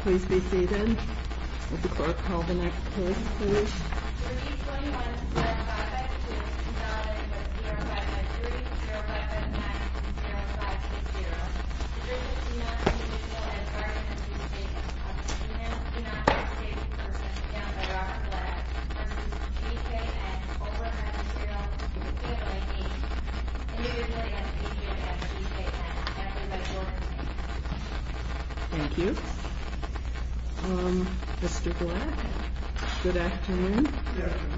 Please be seated. Would the clerk call the next case, please? 321-552-0505, 321-552-0520. The drink is Pina v. GKN. Pina v. GKN. Pina v. GKN. v. GKN. Over and out of zero. Pina v. GKN. Pina v. GKN. Pina v. GKN. Thank you. Mr. Black, good afternoon. Good afternoon.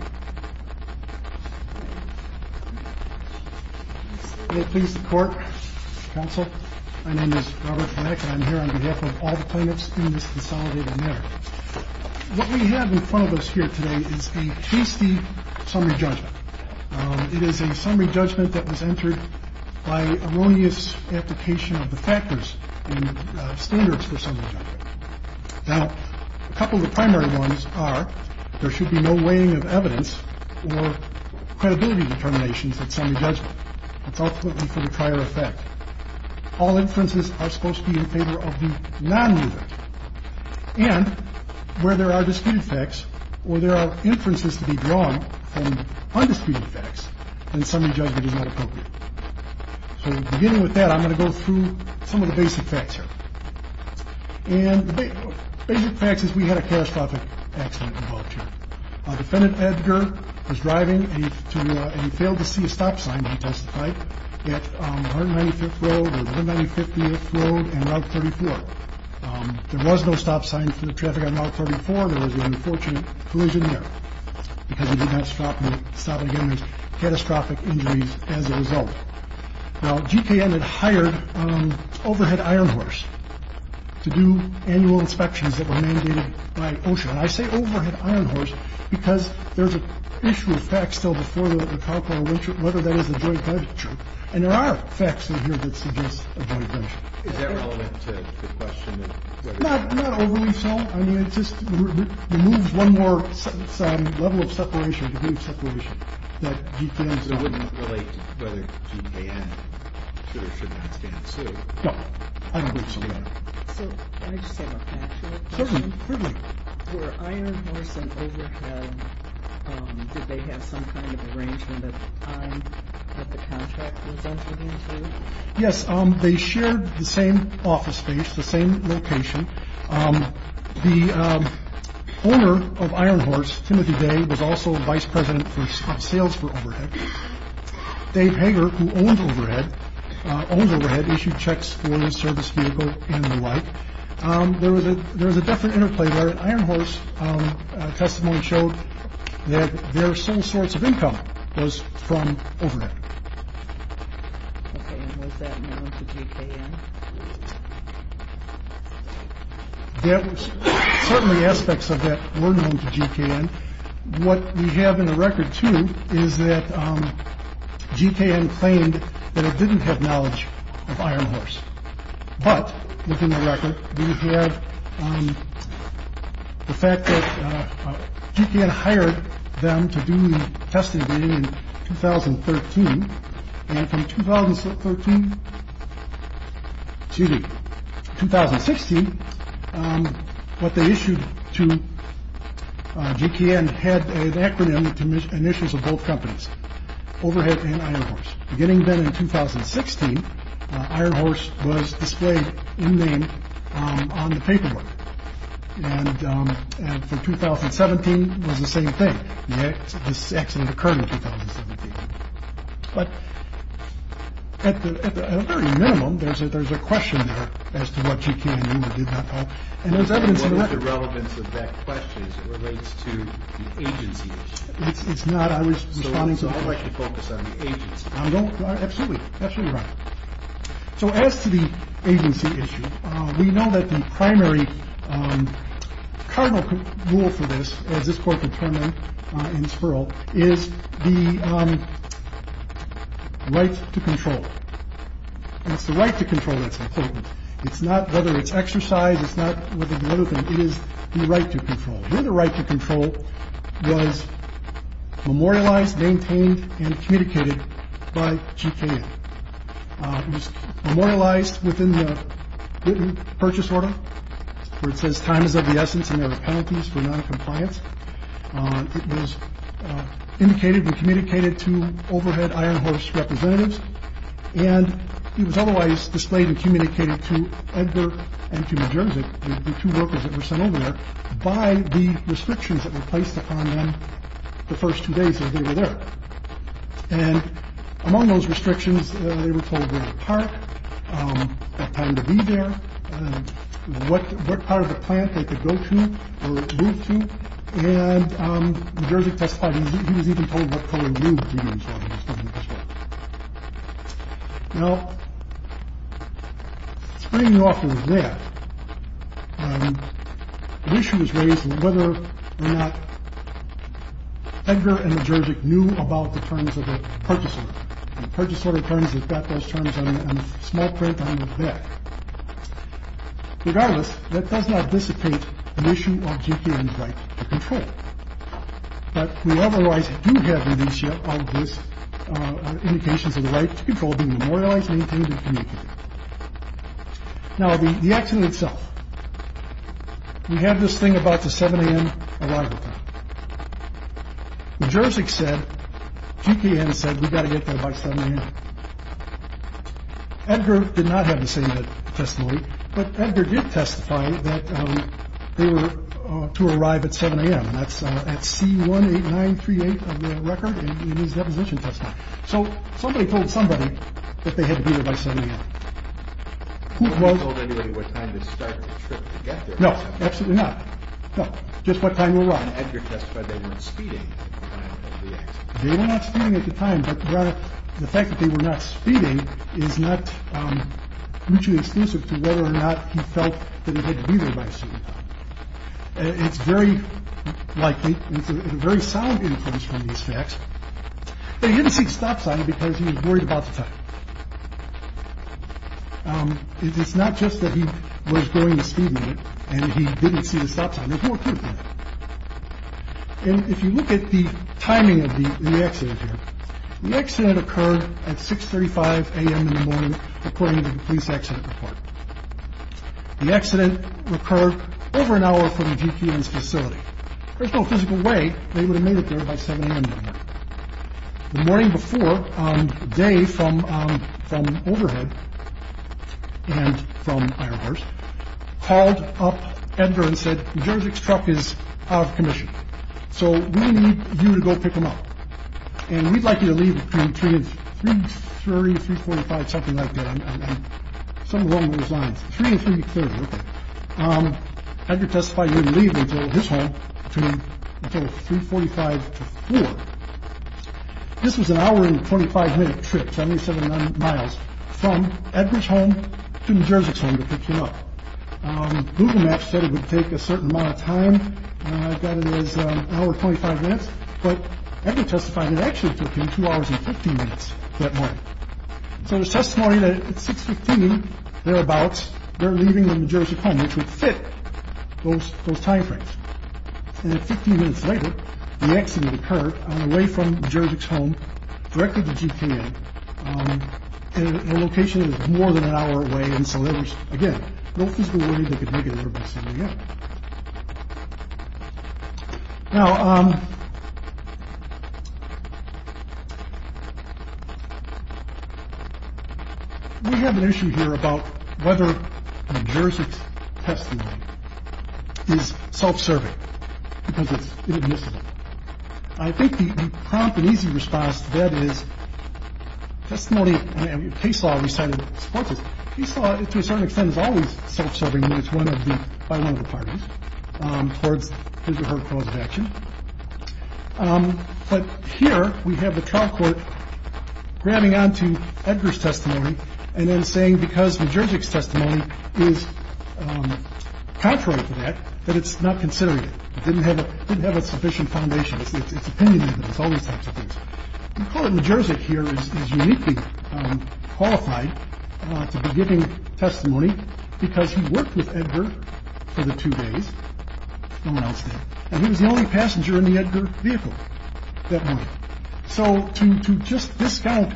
May it please the Court, Counsel, my name is Robert Black, and I'm here on behalf of all the plaintiffs in this consolidated matter. What we have in front of us here today is a tasty summary judgment. It is a summary judgment that was entered by erroneous application of the factors and standards for summary judgment. Now, a couple of the primary ones are there should be no weighing of evidence or credibility determinations at summary judgment. It's ultimately for the prior effect. All inferences are supposed to be in favor of the non-user. And where there are disputed facts or there are inferences to be drawn from undisputed facts, then summary judgment is not appropriate. So beginning with that, I'm going to go through some of the basic facts here. And the basic facts is we had a catastrophic accident involved here. Defendant Edgar was driving and he failed to see a stop sign, he testified, at 195th Road and Route 34. There was no stop sign for the traffic on Route 34. There was an unfortunate collision there because he did not stop at a given catastrophic injuries as a result. Now, GKN had hired Overhead Iron Horse to do annual inspections that were mandated by OSHA. And I say Overhead Iron Horse because there's an issue of facts still before the carcoal lynching, whether that is a joint venture. And there are facts in here that suggest a joint venture. Is that relevant to the question? Not overly so. I mean, it just removes one more level of separation, degree of separation, that GKN is not. So it wouldn't relate to whether GKN should or should not stand suit? No. I don't believe so, Your Honor. So can I just say one thing? Certainly. Were Iron Horse and Overhead, did they have some kind of arrangement at the time that the contract was entered into? Yes. They shared the same office space, the same location. The owner of Iron Horse, Timothy Day, was also vice president of sales for Overhead. Dave Hager, who owned Overhead, issued checks for the service vehicle and the like. There was a definite interplay there. Iron Horse testimony showed that their sole source of income was from Overhead. And was that known to GKN? Certainly aspects of that were known to GKN. What we have in the record, too, is that GKN claimed that it didn't have knowledge of Iron Horse. But, looking at the record, we have the fact that GKN hired them to do the testing in 2013. And from 2013 to 2016, what they issued to GKN had an acronym and issues of both companies, Overhead and Iron Horse. Beginning then in 2016, Iron Horse was displayed in name on the paperwork. And for 2017, it was the same thing. This accident occurred in 2017. But, at the very minimum, there's a question there as to what GKN knew but did not know. And there's evidence in the record. What is the relevance of that question? It relates to the agency issue. It's not. I was responding to the question. Absolutely. Absolutely right. So, as to the agency issue, we know that the primary cardinal rule for this, as this court determined in Spurl, is the right to control. And it's the right to control that's important. It's not whether it's exercise. It's not whether the other thing is the right to control. The right to control was memorialized, maintained, and communicated by GKN. It was memorialized within the written purchase order where it says time is of the essence and there are penalties for noncompliance. It was indicated and communicated to Overhead Iron Horse representatives. And it was otherwise displayed and communicated to Edgar and to New Jersey, the two workers that were sent over there, by the restrictions that were placed upon them the first two days that they were there. And among those restrictions, they were told where to park, what time to be there, what part of the plant they could go to or move to. And New Jersey testified he was even told what color he was. Now, springing off of that, the issue was raised whether or not Edgar and New Jersey knew about the terms of the purchase, the purchase order terms that got those terms on a small print on the back. Regardless, that does not dissipate the issue of GKN's right to control. But we otherwise do have all of these indications of the right to control being memorialized, maintained, and communicated. Now, the accident itself. We have this thing about the 7 a.m. arrival time. New Jersey said, GKN said, we've got to get there by 7 a.m. Edgar did not have the same testimony, but Edgar did testify that they were to arrive at 7 a.m., and that's at C18938 of the record in his deposition testimony. So somebody told somebody that they had to be there by 7 a.m. Who was? They didn't tell anybody what time to start the trip to get there. No, absolutely not. No, just what time they arrived. And Edgar testified they weren't speeding at the time of the accident. They were not speeding at the time, but the fact that they were not speeding is not mutually exclusive to whether or not he felt that he had to be there by 7 a.m. It's very likely a very sound influence from these facts. They didn't see stop sign because he was worried about the time. It's not just that he was going to speed and he didn't see the stop sign. And if you look at the timing of the accident here, the accident occurred at 635 a.m. in the morning, according to the police accident report. The accident occurred over an hour from the GPS facility. There's no physical way they would have made it there by 7 a.m. The morning before, they from from overhead and from ours called up Edgar and said, Jerzy's truck is out of commission, so we need you to go pick him up. And we'd like you to leave between three, three, three, three, four, five, something like that. Three, three, three, four. This was an hour and twenty five minute trip. I mean, seven miles from Edwards home to Jerzy's home to pick him up. Google Maps said it would take a certain amount of time. I've got an hour, 25 minutes. But I can testify that actually took him two hours and 15 minutes. So there's testimony that they're about. They're leaving the majority of home, which would fit those timeframes. And then 15 minutes later, the accident occurred away from Jerzy's home, directly to GPA. And the location is more than an hour away. And so there was, again, no physical way they could make it there by 7 a.m. Now. We have an issue here about whether Jerzy's testimony is self-serving. I think the prompt and easy response to that is testimony. Case law recited sports. He saw it to a certain extent is always self-serving. It's one of the parties towards her cause of action. But here we have the trial court grabbing on to Edgar's testimony and then saying, because the juristic testimony is contrary to that, that it's not considered. Didn't have a didn't have a sufficient foundation. It's opinionated. It's all these types of things. Jerzy here is uniquely qualified to be giving testimony because he worked with Edgar for the two days. And he was the only passenger in the Edgar vehicle. So to just discount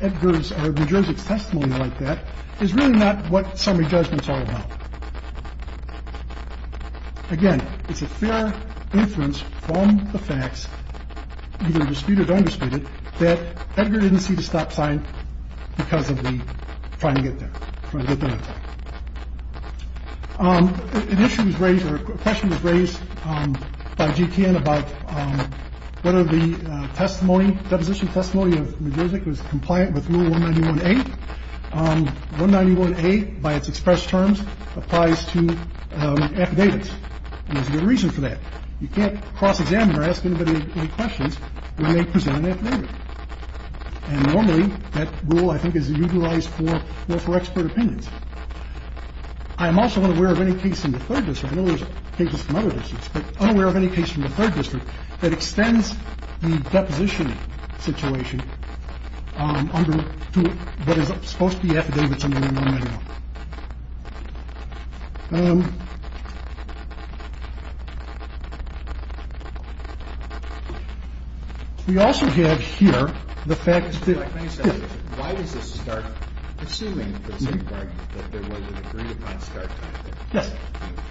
Edgar's or Jerzy's testimony like that is really not what summary judgments are about. Again, it's a fair inference from the facts, either disputed or undisputed, that Edgar didn't see the stop sign because of the trying to get there. An issue was raised or a question was raised by GTN about whether the testimony, deposition testimony of music was compliant with one ninety one eight one ninety one eight. By its express terms applies to affidavits. There's a reason for that. You can't cross examine or ask anybody any questions when they present an affidavit. And normally that rule, I think, is utilized for expert opinions. I'm also unaware of any case in the third district. I know there's cases from other districts, but I'm aware of any case from the third district that extends the deposition situation to what is supposed to be affidavits. We also have here the fact that. Why does this start assuming that there was an agreed upon start? Yes.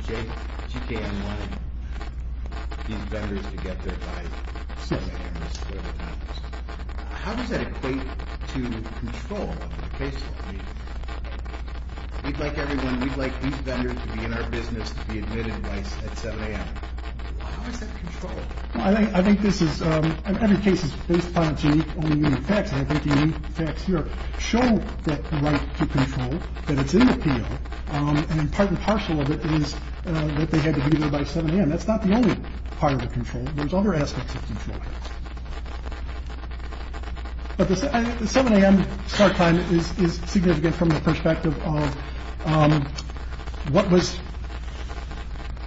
You can get there. How does that equate to control? We'd like everyone. We'd like these vendors to be in our business, to be admitted at 7 a.m. I think I think this is every case is based upon facts. I think the facts here show that right to control that it's in the field. And part and parcel of it is that they had to be there by 7 a.m. That's not the only part of the control. There's other aspects. But the 7 a.m. start time is significant from the perspective of what was.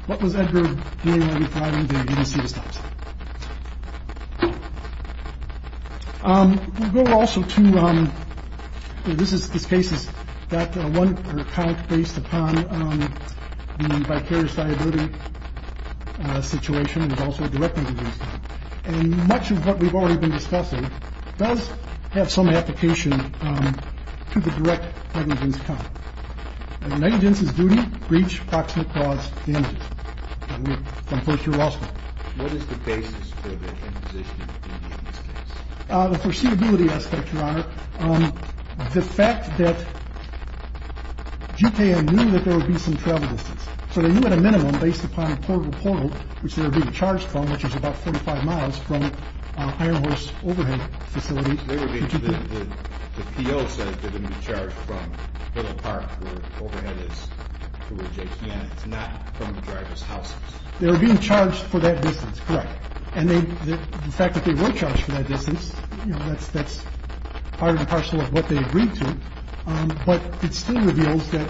What was it? I didn't see the stops. Go also to this is this case is that one count based upon the vicarious liability situation is also directly. And much of what we've already been discussing does have some application to the direct evidence. Negances, duty, breach, approximate cause. What is the basis for the foreseeability aspect? Your Honor, the fact that you knew that there would be some travel distance, so that you had a minimum based upon a portal portal, which they were being charged from, which is about 45 miles from a horse overhead facility. The field says they're going to be charged from the park. It's not from the driver's house. They were being charged for that business. And the fact that they were charged for that business, that's that's part and parcel of what they agreed to. But it still reveals that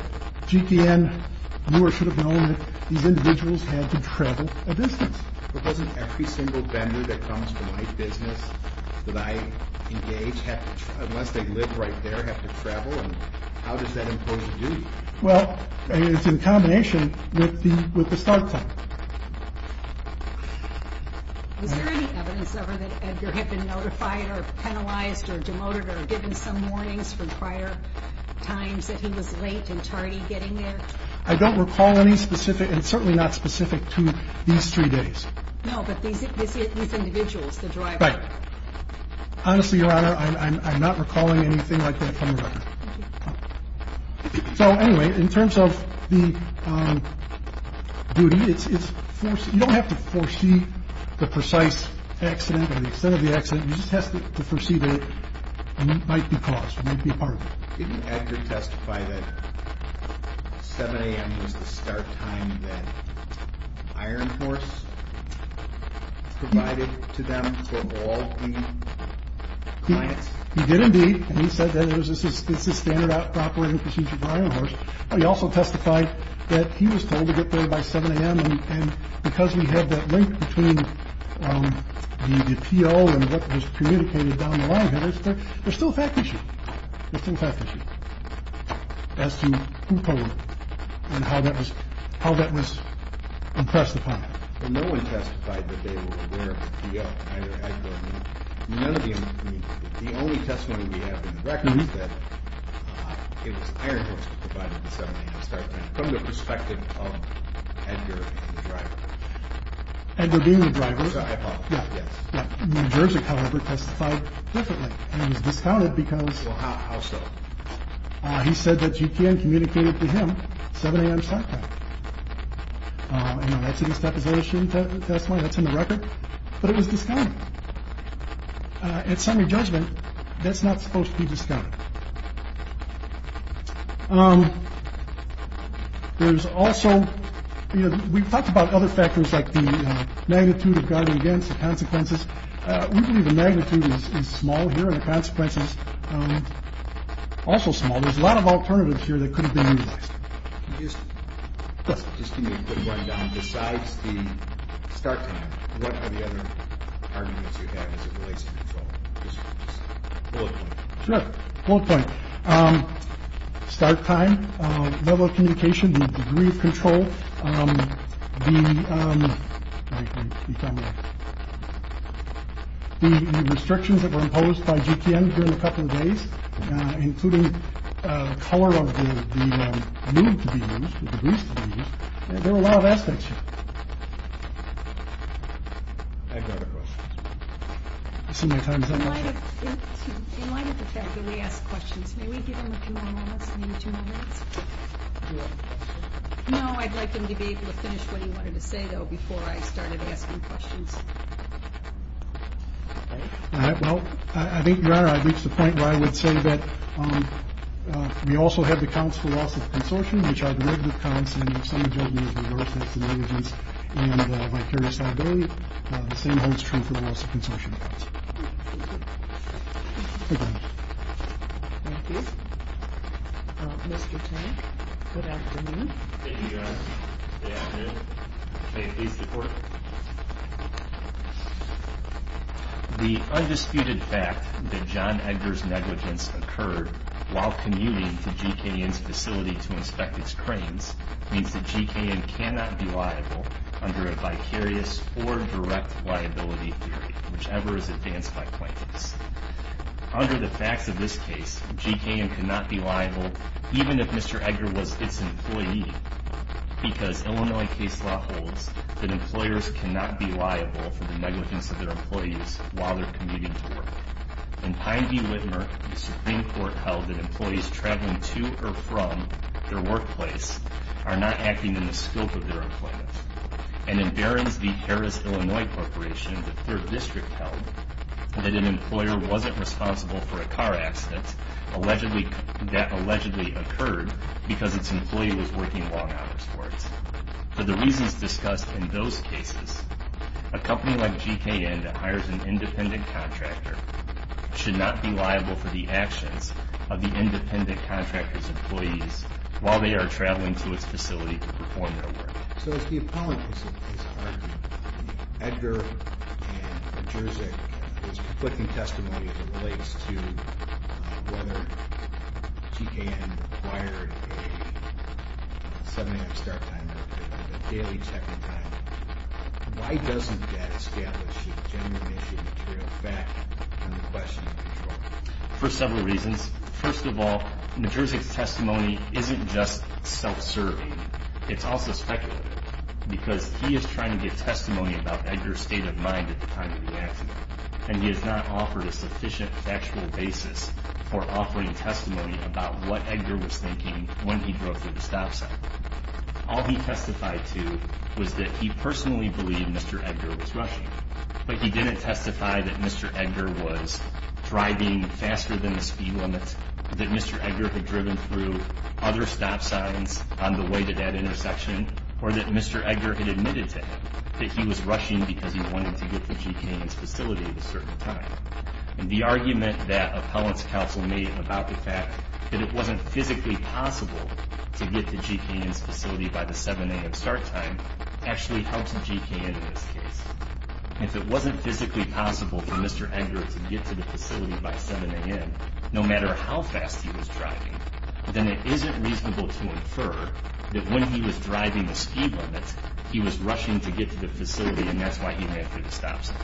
GTN, you or should have known these individuals had to travel a distance. But doesn't every single vendor that comes to my business that I engage, unless they live right there, have to travel? And how does that impose a duty? Well, it's in combination with the start time. Was there any evidence ever that Edgar had been notified or penalized or demoted or given some warnings from prior times that he was late and tardy getting there? I don't recall any specific and certainly not specific to these three days. No, but these individuals, the driver. Right. Honestly, Your Honor, I'm not recalling anything like that from the record. Thank you. So anyway, in terms of the duty, it's you don't have to foresee the precise accident or the extent of the accident. You just have to foresee that it might be caused, might be part of it. Didn't Edgar testify that 7 a.m. was the start time that Iron Horse provided to them for all the clients? He did indeed. And he said that it was a standard operating procedure for Iron Horse. But he also testified that he was told to get there by 7 a.m. And because we have that link between the P.O. and what was communicated down the line, there's still a fact issue. There's still a fact issue as to who told and how that was impressed upon. But no one testified that they were aware of either Edgar or me. The only testimony we have in the record is that it was Iron Horse who provided the 7 a.m. start time from the perspective of Edgar and the driver. Edgar being the driver. Yes. New Jersey, however, testified differently and was discounted because he said that you can communicate it to him. 7 a.m. start time. That's in his deposition testimony. That's in the record. But it was discounted. At summary judgment, that's not supposed to be discounted. There's also, you know, we've talked about other factors like the magnitude of guarding against the consequences. We believe the magnitude is small here and the consequences also small. There's a lot of alternatives here that could have been used. Yes. Besides the start. What are the other arguments you have as it relates to control? Sure. One point. Start time, level of communication, the degree of control, the. The restrictions that were imposed by G.P.M. during a couple of days, including the color of the room to be used, there are a lot of aspects. I've got a question. Sometimes I might have to ask questions. May we give him two more minutes? No, I'd like him to be able to finish what he wanted to say, though. Before I started asking questions. Well, I think you are. I think it's the point where I would say that we also have accounts for loss of consortium, which are the negative constant of some of the work that's negligence and vicarious liability. The same holds true for the loss of consortium. Thank you, Mr. Good afternoon. Thank you for the undisputed fact that John Edgar's negligence occurred while commuting to G.P.M. G.P.M.'s facility to inspect its cranes means that G.P.M. cannot be liable under a vicarious or direct liability theory, whichever is advanced by plaintiffs. Under the facts of this case, G.P.M. cannot be liable, even if Mr. Edgar was its employee, because Illinois case law holds that employers cannot be liable for the negligence of their employees while they're commuting to work. In Pine v. Whitmer, the Supreme Court held that employees traveling to or from their workplace are not acting in the scope of their employment. And in Barron v. Harris, Illinois Corporation, the Third District held that an employer wasn't responsible for a car accident that allegedly occurred because its employee was working long hours for it. For the reasons discussed in those cases, a company like G.P.M. that hires an independent contractor should not be liable for the actions of the independent contractor's employees while they are traveling to its facility to perform their work. So as the appellant is arguing, Edgar and Majerzyk is conflicting testimony as it relates to whether G.P.M. required a 7 a.m. start time or a daily check-in time. Why doesn't that establish a genuine issue of material fact under question and control? For several reasons. First of all, Majerzyk's testimony isn't just self-serving. It's also speculative, because he is trying to get testimony about Edgar's state of mind at the time of the accident. And he has not offered a sufficient factual basis for offering testimony about what Edgar was thinking when he drove through the stop sign. All he testified to was that he personally believed Mr. Edgar was rushing, but he didn't testify that Mr. Edgar was driving faster than the speed limit, that Mr. Edgar had driven through other stop signs on the way to that intersection, or that Mr. Edgar had admitted to him that he was rushing because he wanted to get to G.P.M.'s facility at a certain time. And the argument that appellant's counsel made about the fact that it wasn't physically possible to get to G.P.M.'s facility by the 7 a.m. start time actually helps G.P.M. in this case. If it wasn't physically possible for Mr. Edgar to get to the facility by 7 a.m., no matter how fast he was driving, then it isn't reasonable to infer that when he was driving the speed limit, he was rushing to get to the facility and that's why he ran through the stop sign.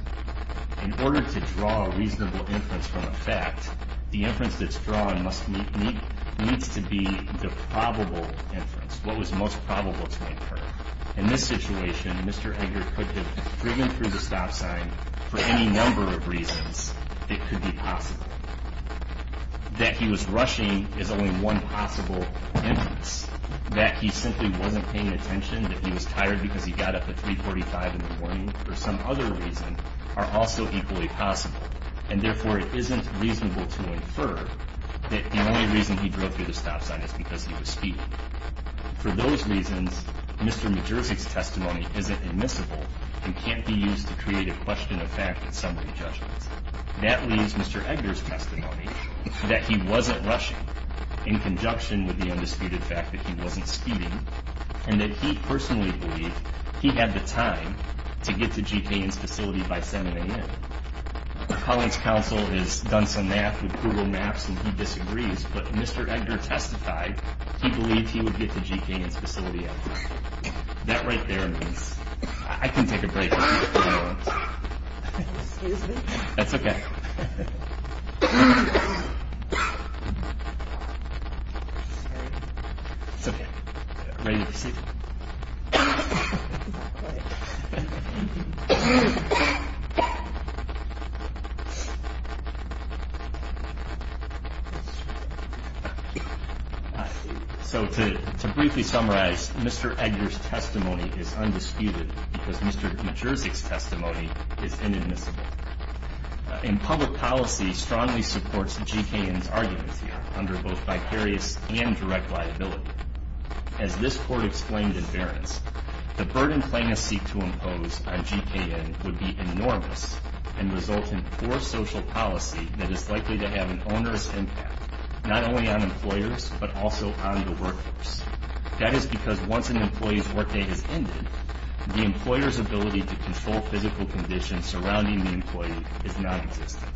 In order to draw a reasonable inference from a fact, the inference that's drawn needs to be the probable inference, what was most probable to infer. In this situation, Mr. Edgar could have driven through the stop sign for any number of reasons. It could be possible. That he was rushing is only one possible inference. That he simply wasn't paying attention, that he was tired because he got up at 3.45 in the morning, or some other reason, are also equally possible. And therefore, it isn't reasonable to infer that the only reason he drove through the stop sign is because he was speeding. For those reasons, Mr. Majerzyk's testimony isn't admissible and can't be used to create a question of fact that somebody judges. That leaves Mr. Edgar's testimony that he wasn't rushing in conjunction with the undisputed fact that he wasn't speeding and that he personally believed he had the time to get to G.P.M.'s facility by 7 a.m. My colleague's counsel has done some math with Google Maps and he disagrees, but Mr. Edgar testified he believed he would get to G.P.M.'s facility at 7 a.m. That right there means... I can take a break if you want. Excuse me. That's okay. It's okay. Ready to proceed? So to briefly summarize, Mr. Edgar's testimony is undisputed because Mr. Majerzyk's testimony is inadmissible. And public policy strongly supports G.K.N.'s arguments here under both vicarious and direct liability. As this court explained in Berence, the burden plaintiffs seek to impose on G.K.N. would be enormous and result in poor social policy that is likely to have an onerous impact not only on employers but also on the workforce. That is because once an employee's workday has ended, the employer's ability to control physical conditions surrounding the employee is non-existent.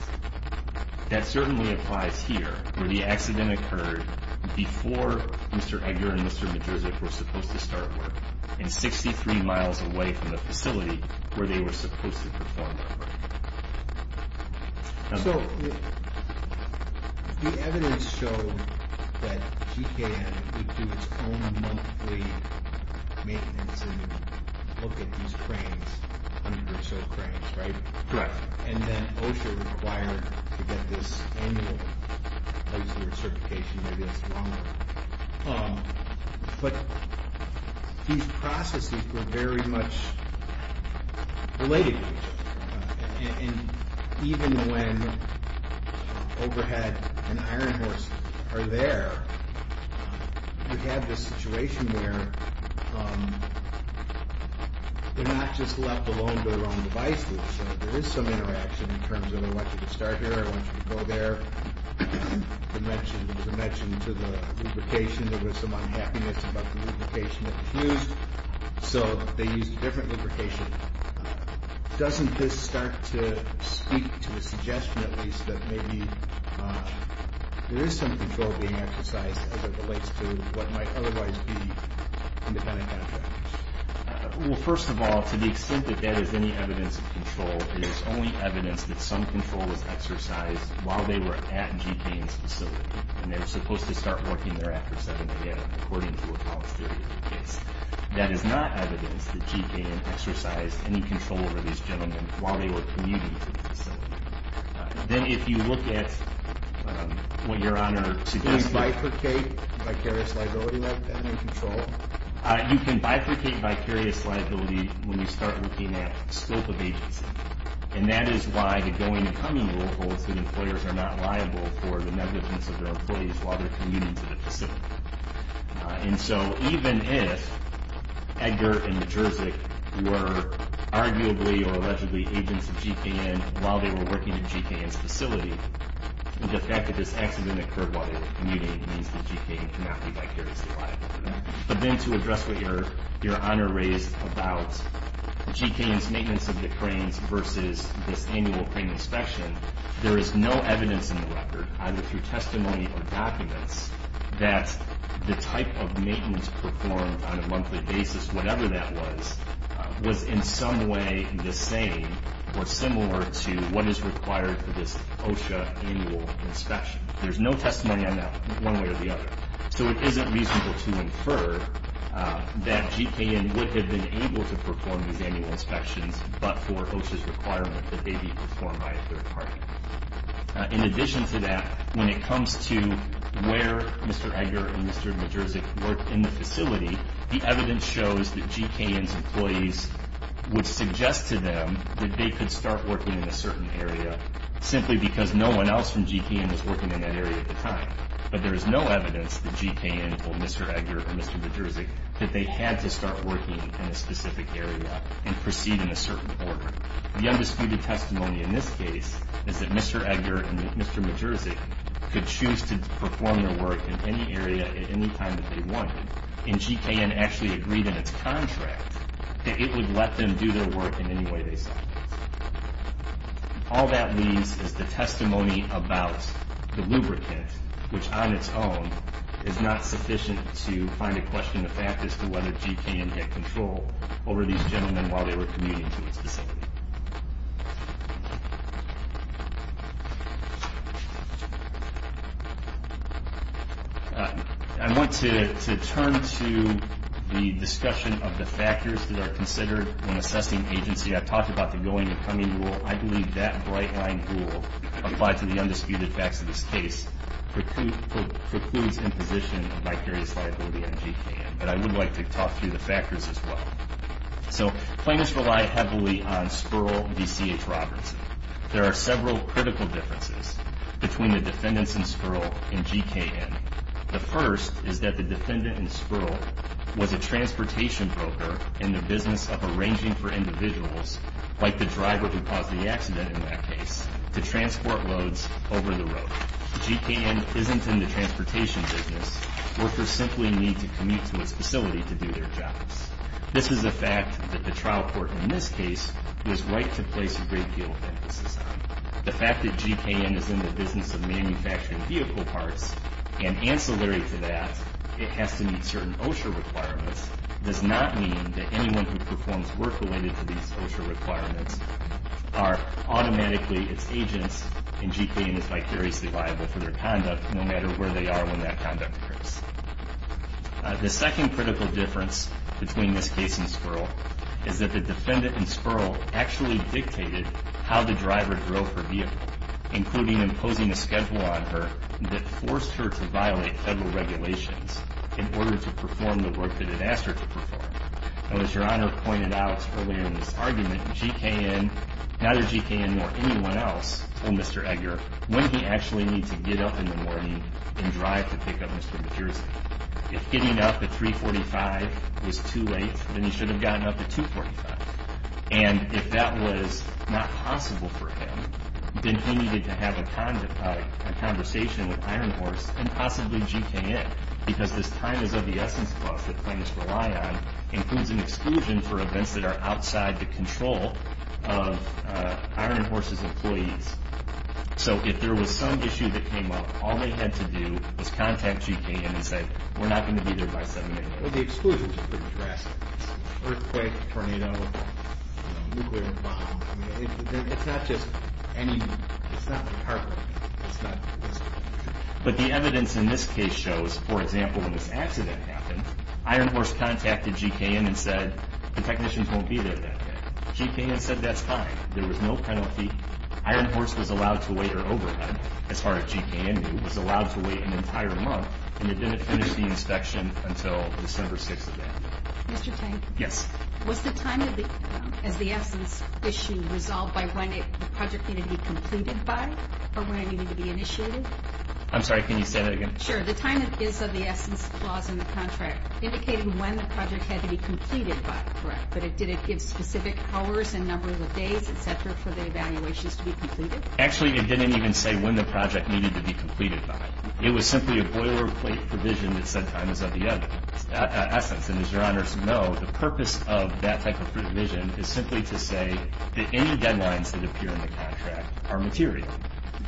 That certainly applies here, where the accident occurred before Mr. Edgar and Mr. Majerzyk were supposed to start work, and 63 miles away from the facility where they were supposed to perform that work. So the evidence showed that G.K.N. would do its own monthly maintenance and look at these cranes, under-reserved cranes, right? Correct. And then OSHA required to get this annual. Obviously, with certification, maybe that's longer. But these processes were very much related to each other. And even when overhead and iron horse are there, we have this situation where they're not just left alone to their own devices. There is some interaction in terms of, I want you to start here, I want you to go there. You mentioned to the lubrication, there was some unhappiness about the lubrication that was used, so they used a different lubrication. Doesn't this start to speak to a suggestion, at least, that maybe there is some control being exercised as it relates to what might otherwise be independent contractors? Well, first of all, to the extent that that is any evidence of control, it is only evidence that some control was exercised while they were at G.K.N.'s facility. And they were supposed to start working there after 7 a.m., according to a college theory of the case. That is not evidence that G.K.N. exercised any control over these gentlemen while they were commuting to the facility. Then, if you look at what Your Honor suggests... Can you bifurcate vicarious liability with independent control? You can bifurcate vicarious liability when you start looking at scope of agency. And that is why the going and coming rule holds that employers are not liable for the negligence of their employees while they are commuting to the facility. And so, even if Edgar and Majerzyk were arguably or allegedly agents of G.K.N. while they were working at G.K.N.'s facility, the fact that this accident occurred while they were commuting means that G.K.N. cannot be vicariously liable for that. But then, to address what Your Honor raised about G.K.N.'s maintenance of the cranes versus this annual crane inspection, there is no evidence in the record, either through testimony or documents, that the type of maintenance performed on a monthly basis, whatever that was, was in some way the same or similar to what is required for this OSHA annual inspection. There's no testimony on that one way or the other. So, it isn't reasonable to infer that G.K.N. would have been able to perform these annual inspections, but for OSHA's requirement that they be performed by a third party. In addition to that, when it comes to where Mr. Edgar and Mr. Majerzyk worked in the facility, the evidence shows that G.K.N.'s employees would suggest to them that they could start working in a certain area, simply because no one else from G.K.N. was working in that area at the time. But there is no evidence that G.K.N. or Mr. Edgar or Mr. Majerzyk, that they had to start working in a specific area and proceed in a certain order. The undisputed testimony in this case is that Mr. Edgar and Mr. Majerzyk could choose to perform their work in any area at any time that they wanted, and G.K.N. actually agreed in its contract that it would let them do their work in any way they saw fit. All that leaves is the testimony about the lubricant, which on its own is not sufficient to find a question of fact as to whether G.K.N. had control over these gentlemen while they were commuting to the facility. I want to turn to the discussion of the factors that are considered when assessing agency. I talked about the going and coming rule. I believe that bright-line rule applied to the undisputed facts of this case precludes imposition of vicarious liability on G.K.N., but I would like to talk through the factors as well. So plaintiffs rely heavily on Spurl v. C.H. Robertson. There are several critical differences between the defendants in Spurl and G.K.N. The first is that the defendant in Spurl was a transportation broker in the business of arranging for individuals, like the driver who caused the accident in that case, to transport loads over the road. G.K.N. isn't in the transportation business. Workers simply need to commute to its facility to do their jobs. This is a fact that the trial court in this case was right to place a great deal of emphasis on. The fact that G.K.N. is in the business of manufacturing vehicle parts and ancillary to that it has to meet certain OSHA requirements does not mean that anyone who performs work related to these OSHA requirements are automatically its agents and G.K.N. is vicariously liable for their conduct no matter where they are when that conduct occurs. The second critical difference between this case and Spurl is that the defendant in Spurl actually dictated how the driver drove her vehicle, including imposing a schedule on her that forced her to violate federal regulations in order to perform the work that it asked her to perform. And as Your Honor pointed out earlier in this argument, G.K.N., neither G.K.N. nor anyone else told Mr. Egger when he actually needed to get up in the morning and drive to pick up Mr. MacJersey. If getting up at 345 was too late, then he should have gotten up at 245. And if that was not possible for him, then he needed to have a conversation with Iron Horse and possibly G.K.N. because this time is of the essence clause that plaintiffs rely on includes an exclusion for events that are outside the control of Iron Horse's employees. So if there was some issue that came up, all they had to do was contact G.K.N. and say, we're not going to be there by 7 a.m. Well, the exclusion is pretty drastic. Earthquake, tornado, nuclear bomb. It's not just any, it's not the car crash. But the evidence in this case shows, for example, when this accident happened, Iron Horse contacted G.K.N. and said the technicians won't be there that day. G.K.N. said that's fine. There was no penalty. Iron Horse was allowed to wait their overhead, as far as G.K.N. knew, was allowed to wait an entire month, and they didn't finish the inspection until December 6th of that year. Mr. Tank? Yes. Was the time as the essence issue resolved by when the project needed to be completed by or when it needed to be initiated? I'm sorry, can you say that again? Sure. The time is of the essence clause in the contract, indicating when the project had to be completed by, correct? But did it give specific hours and number of days, et cetera, for the evaluations to be completed? Actually, it didn't even say when the project needed to be completed by. It was simply a boilerplate provision that said time is of the essence. And as your honors know, the purpose of that type of provision is simply to say that any deadlines that appear in the contract are material.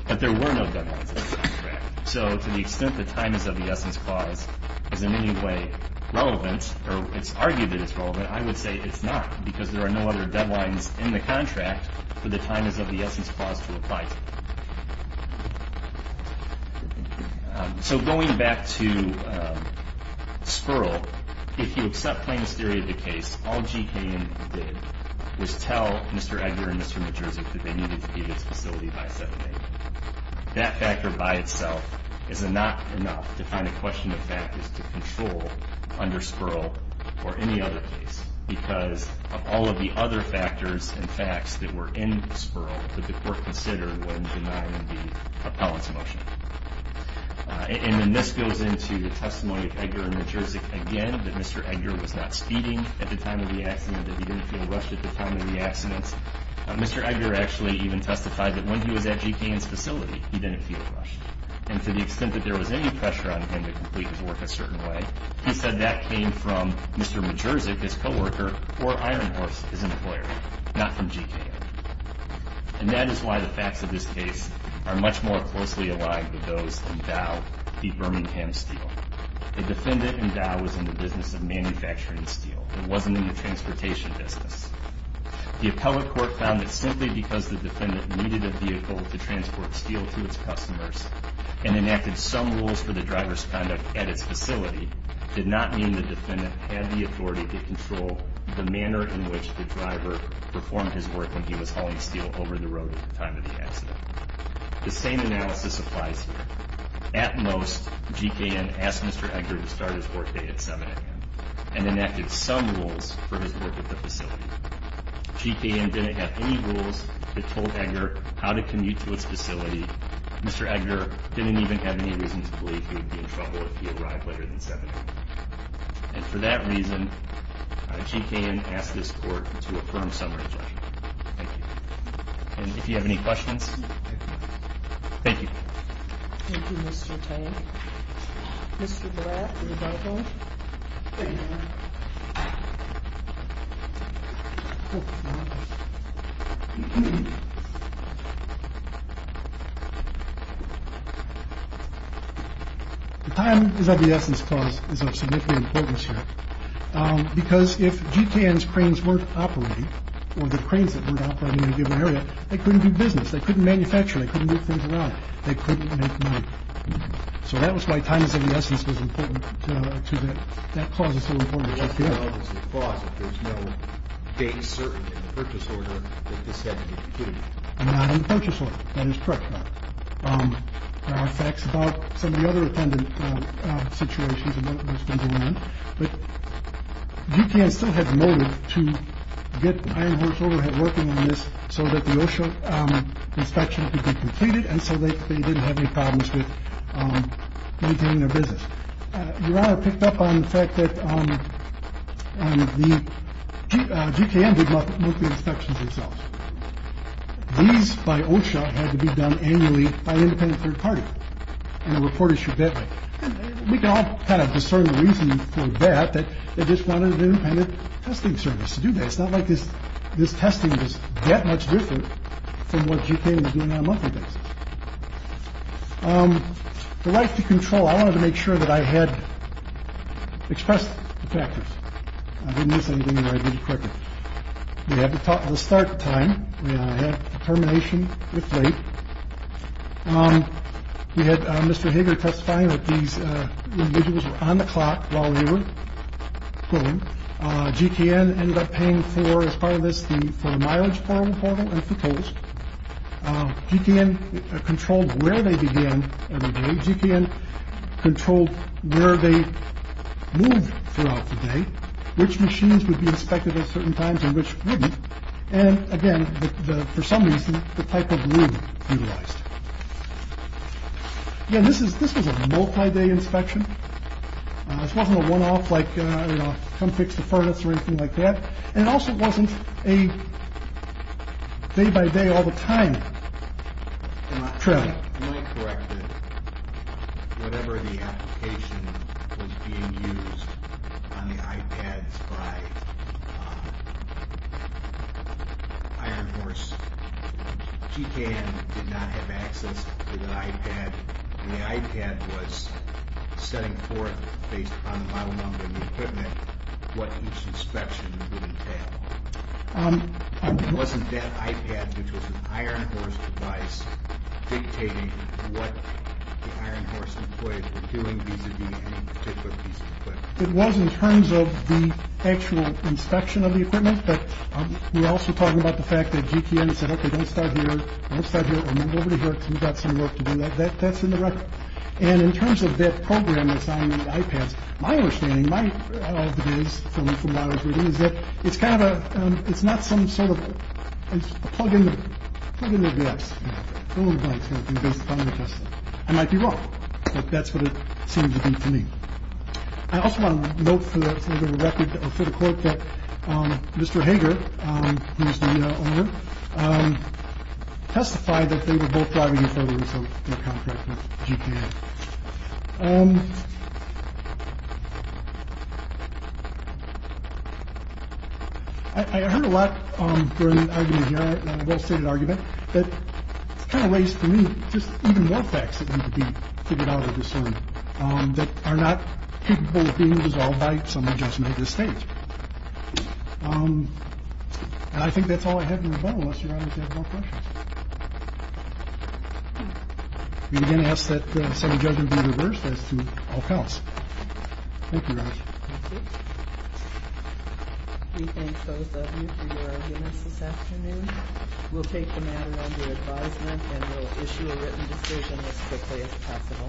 But there were no deadlines in the contract. So to the extent the time is of the essence clause is in any way relevant, or it's argued that it's relevant, I would say it's not, because there are no other deadlines in the contract for the time is of the essence clause to apply to. So going back to Sperl, if you accept plainness theory of the case, all GKN did was tell Mr. Edgar and Mr. Majerzyk that they needed to be at this facility by 7 a.m. That factor by itself is not enough to find a question of factors to control under Sperl or any other case, because of all of the other factors and facts that were in Sperl that the court considered when denying the appellant's motion. And then this goes into the testimony of Edgar and Majerzyk again, that Mr. Edgar was not speeding at the time of the accident, that he didn't feel rushed at the time of the accident. Mr. Edgar actually even testified that when he was at GKN's facility, he didn't feel rushed. And to the extent that there was any pressure on him to complete his work a certain way, he said that came from Mr. Majerzyk, his co-worker, or Iron Horse, his employer, not from GKN. And that is why the facts of this case are much more closely aligned with those in Dow v. Birmingham Steel. The defendant in Dow was in the business of manufacturing steel. It wasn't in the transportation business. The appellate court found that simply because the defendant needed a vehicle to transport steel to its customers and enacted some rules for the driver's conduct at its facility, did not mean the defendant had the authority to control the manner in which the driver performed his work when he was hauling steel over the road at the time of the accident. The same analysis applies here. At most, GKN asked Mr. Edgar to start his workday at 7 a.m. and enacted some rules for his work at the facility. GKN didn't have any rules that told Edgar how to commute to its facility. Mr. Edgar didn't even have any reason to believe he would be in trouble if he arrived later than 7 a.m. And for that reason, GKN asked this court to affirm summary judgment. Thank you. And if you have any questions, thank you. Thank you, Mr. Tank. Mr. Black, are you back on? Thank you. The time is of the essence clause is of significant importance here. Because if GKN's cranes weren't operating, or the cranes that weren't operating in a given area, they couldn't do business, they couldn't manufacture, they couldn't move things around, they couldn't make money. So that was why time is of the essence was important to that. That clause is so important. There's no date certain in the purchase order that this had to be completed. Not in the purchase order. That is correct. There are facts about some of the other attendant situations and what was going on. But GKN still had motive to get Iron Horse overhead working on this so that the OSHA inspection could be completed and so that they didn't have any problems with maintaining their business. Your Honor picked up on the fact that GKN did most of the inspections themselves. These, by OSHA, had to be done annually by an independent third party. And the report issued that way. We can all kind of discern the reason for that, that they just wanted an independent testing service to do that. It's not like this. This testing is that much different from what GKN was doing on a monthly basis. The right to control. I wanted to make sure that I had expressed the factors. I didn't miss anything that I did correctly. We had to talk to the start time. I had termination if late. We had Mr. Hager testifying that these individuals were on the clock while they were pulling. GKN ended up paying for, as part of this, for the mileage portal and for tolls. GKN controlled where they began every day. GKN controlled where they moved throughout the day, which machines would be inspected at certain times and which wouldn't. And again, for some reason, the type of room utilized. Again, this was a multi-day inspection. This wasn't a one-off like, you know, come fix the furnace or anything like that. And it also wasn't a day-by-day all the time trial. Let me correct it. Whatever the application was being used on the iPads by Iron Horse, GKN did not have access to the iPad. The iPad was setting forth, based upon the model number and the equipment, what each inspection would entail. It wasn't that iPad, which was an Iron Horse device, dictating what the Iron Horse employees were doing, vis-a-vis any particular piece of equipment. It was in terms of the actual inspection of the equipment. But we're also talking about the fact that GKN said, OK, don't start here. Don't start here. Move over to here because we've got some work to do. That's in the record. And in terms of that program that's on the iPads, my understanding is that it's kind of a it's not some sort of a plug in. I might be wrong, but that's what it seems to me. I also want to note for the record for the court that Mr. Hager, who is the owner, testified that they were both driving in photos of their contract with GKN. I heard a lot during the argument here, a well stated argument that kind of raised for me just even more facts that need to be figured out of this one that are not capable of being resolved by some adjustment of the state. I think that's all I have. You're going to ask that some judgment be reversed as to all counts. We thank both of you for your audience this afternoon. We'll take the matter under advisement and we'll issue a written decision as quickly as possible.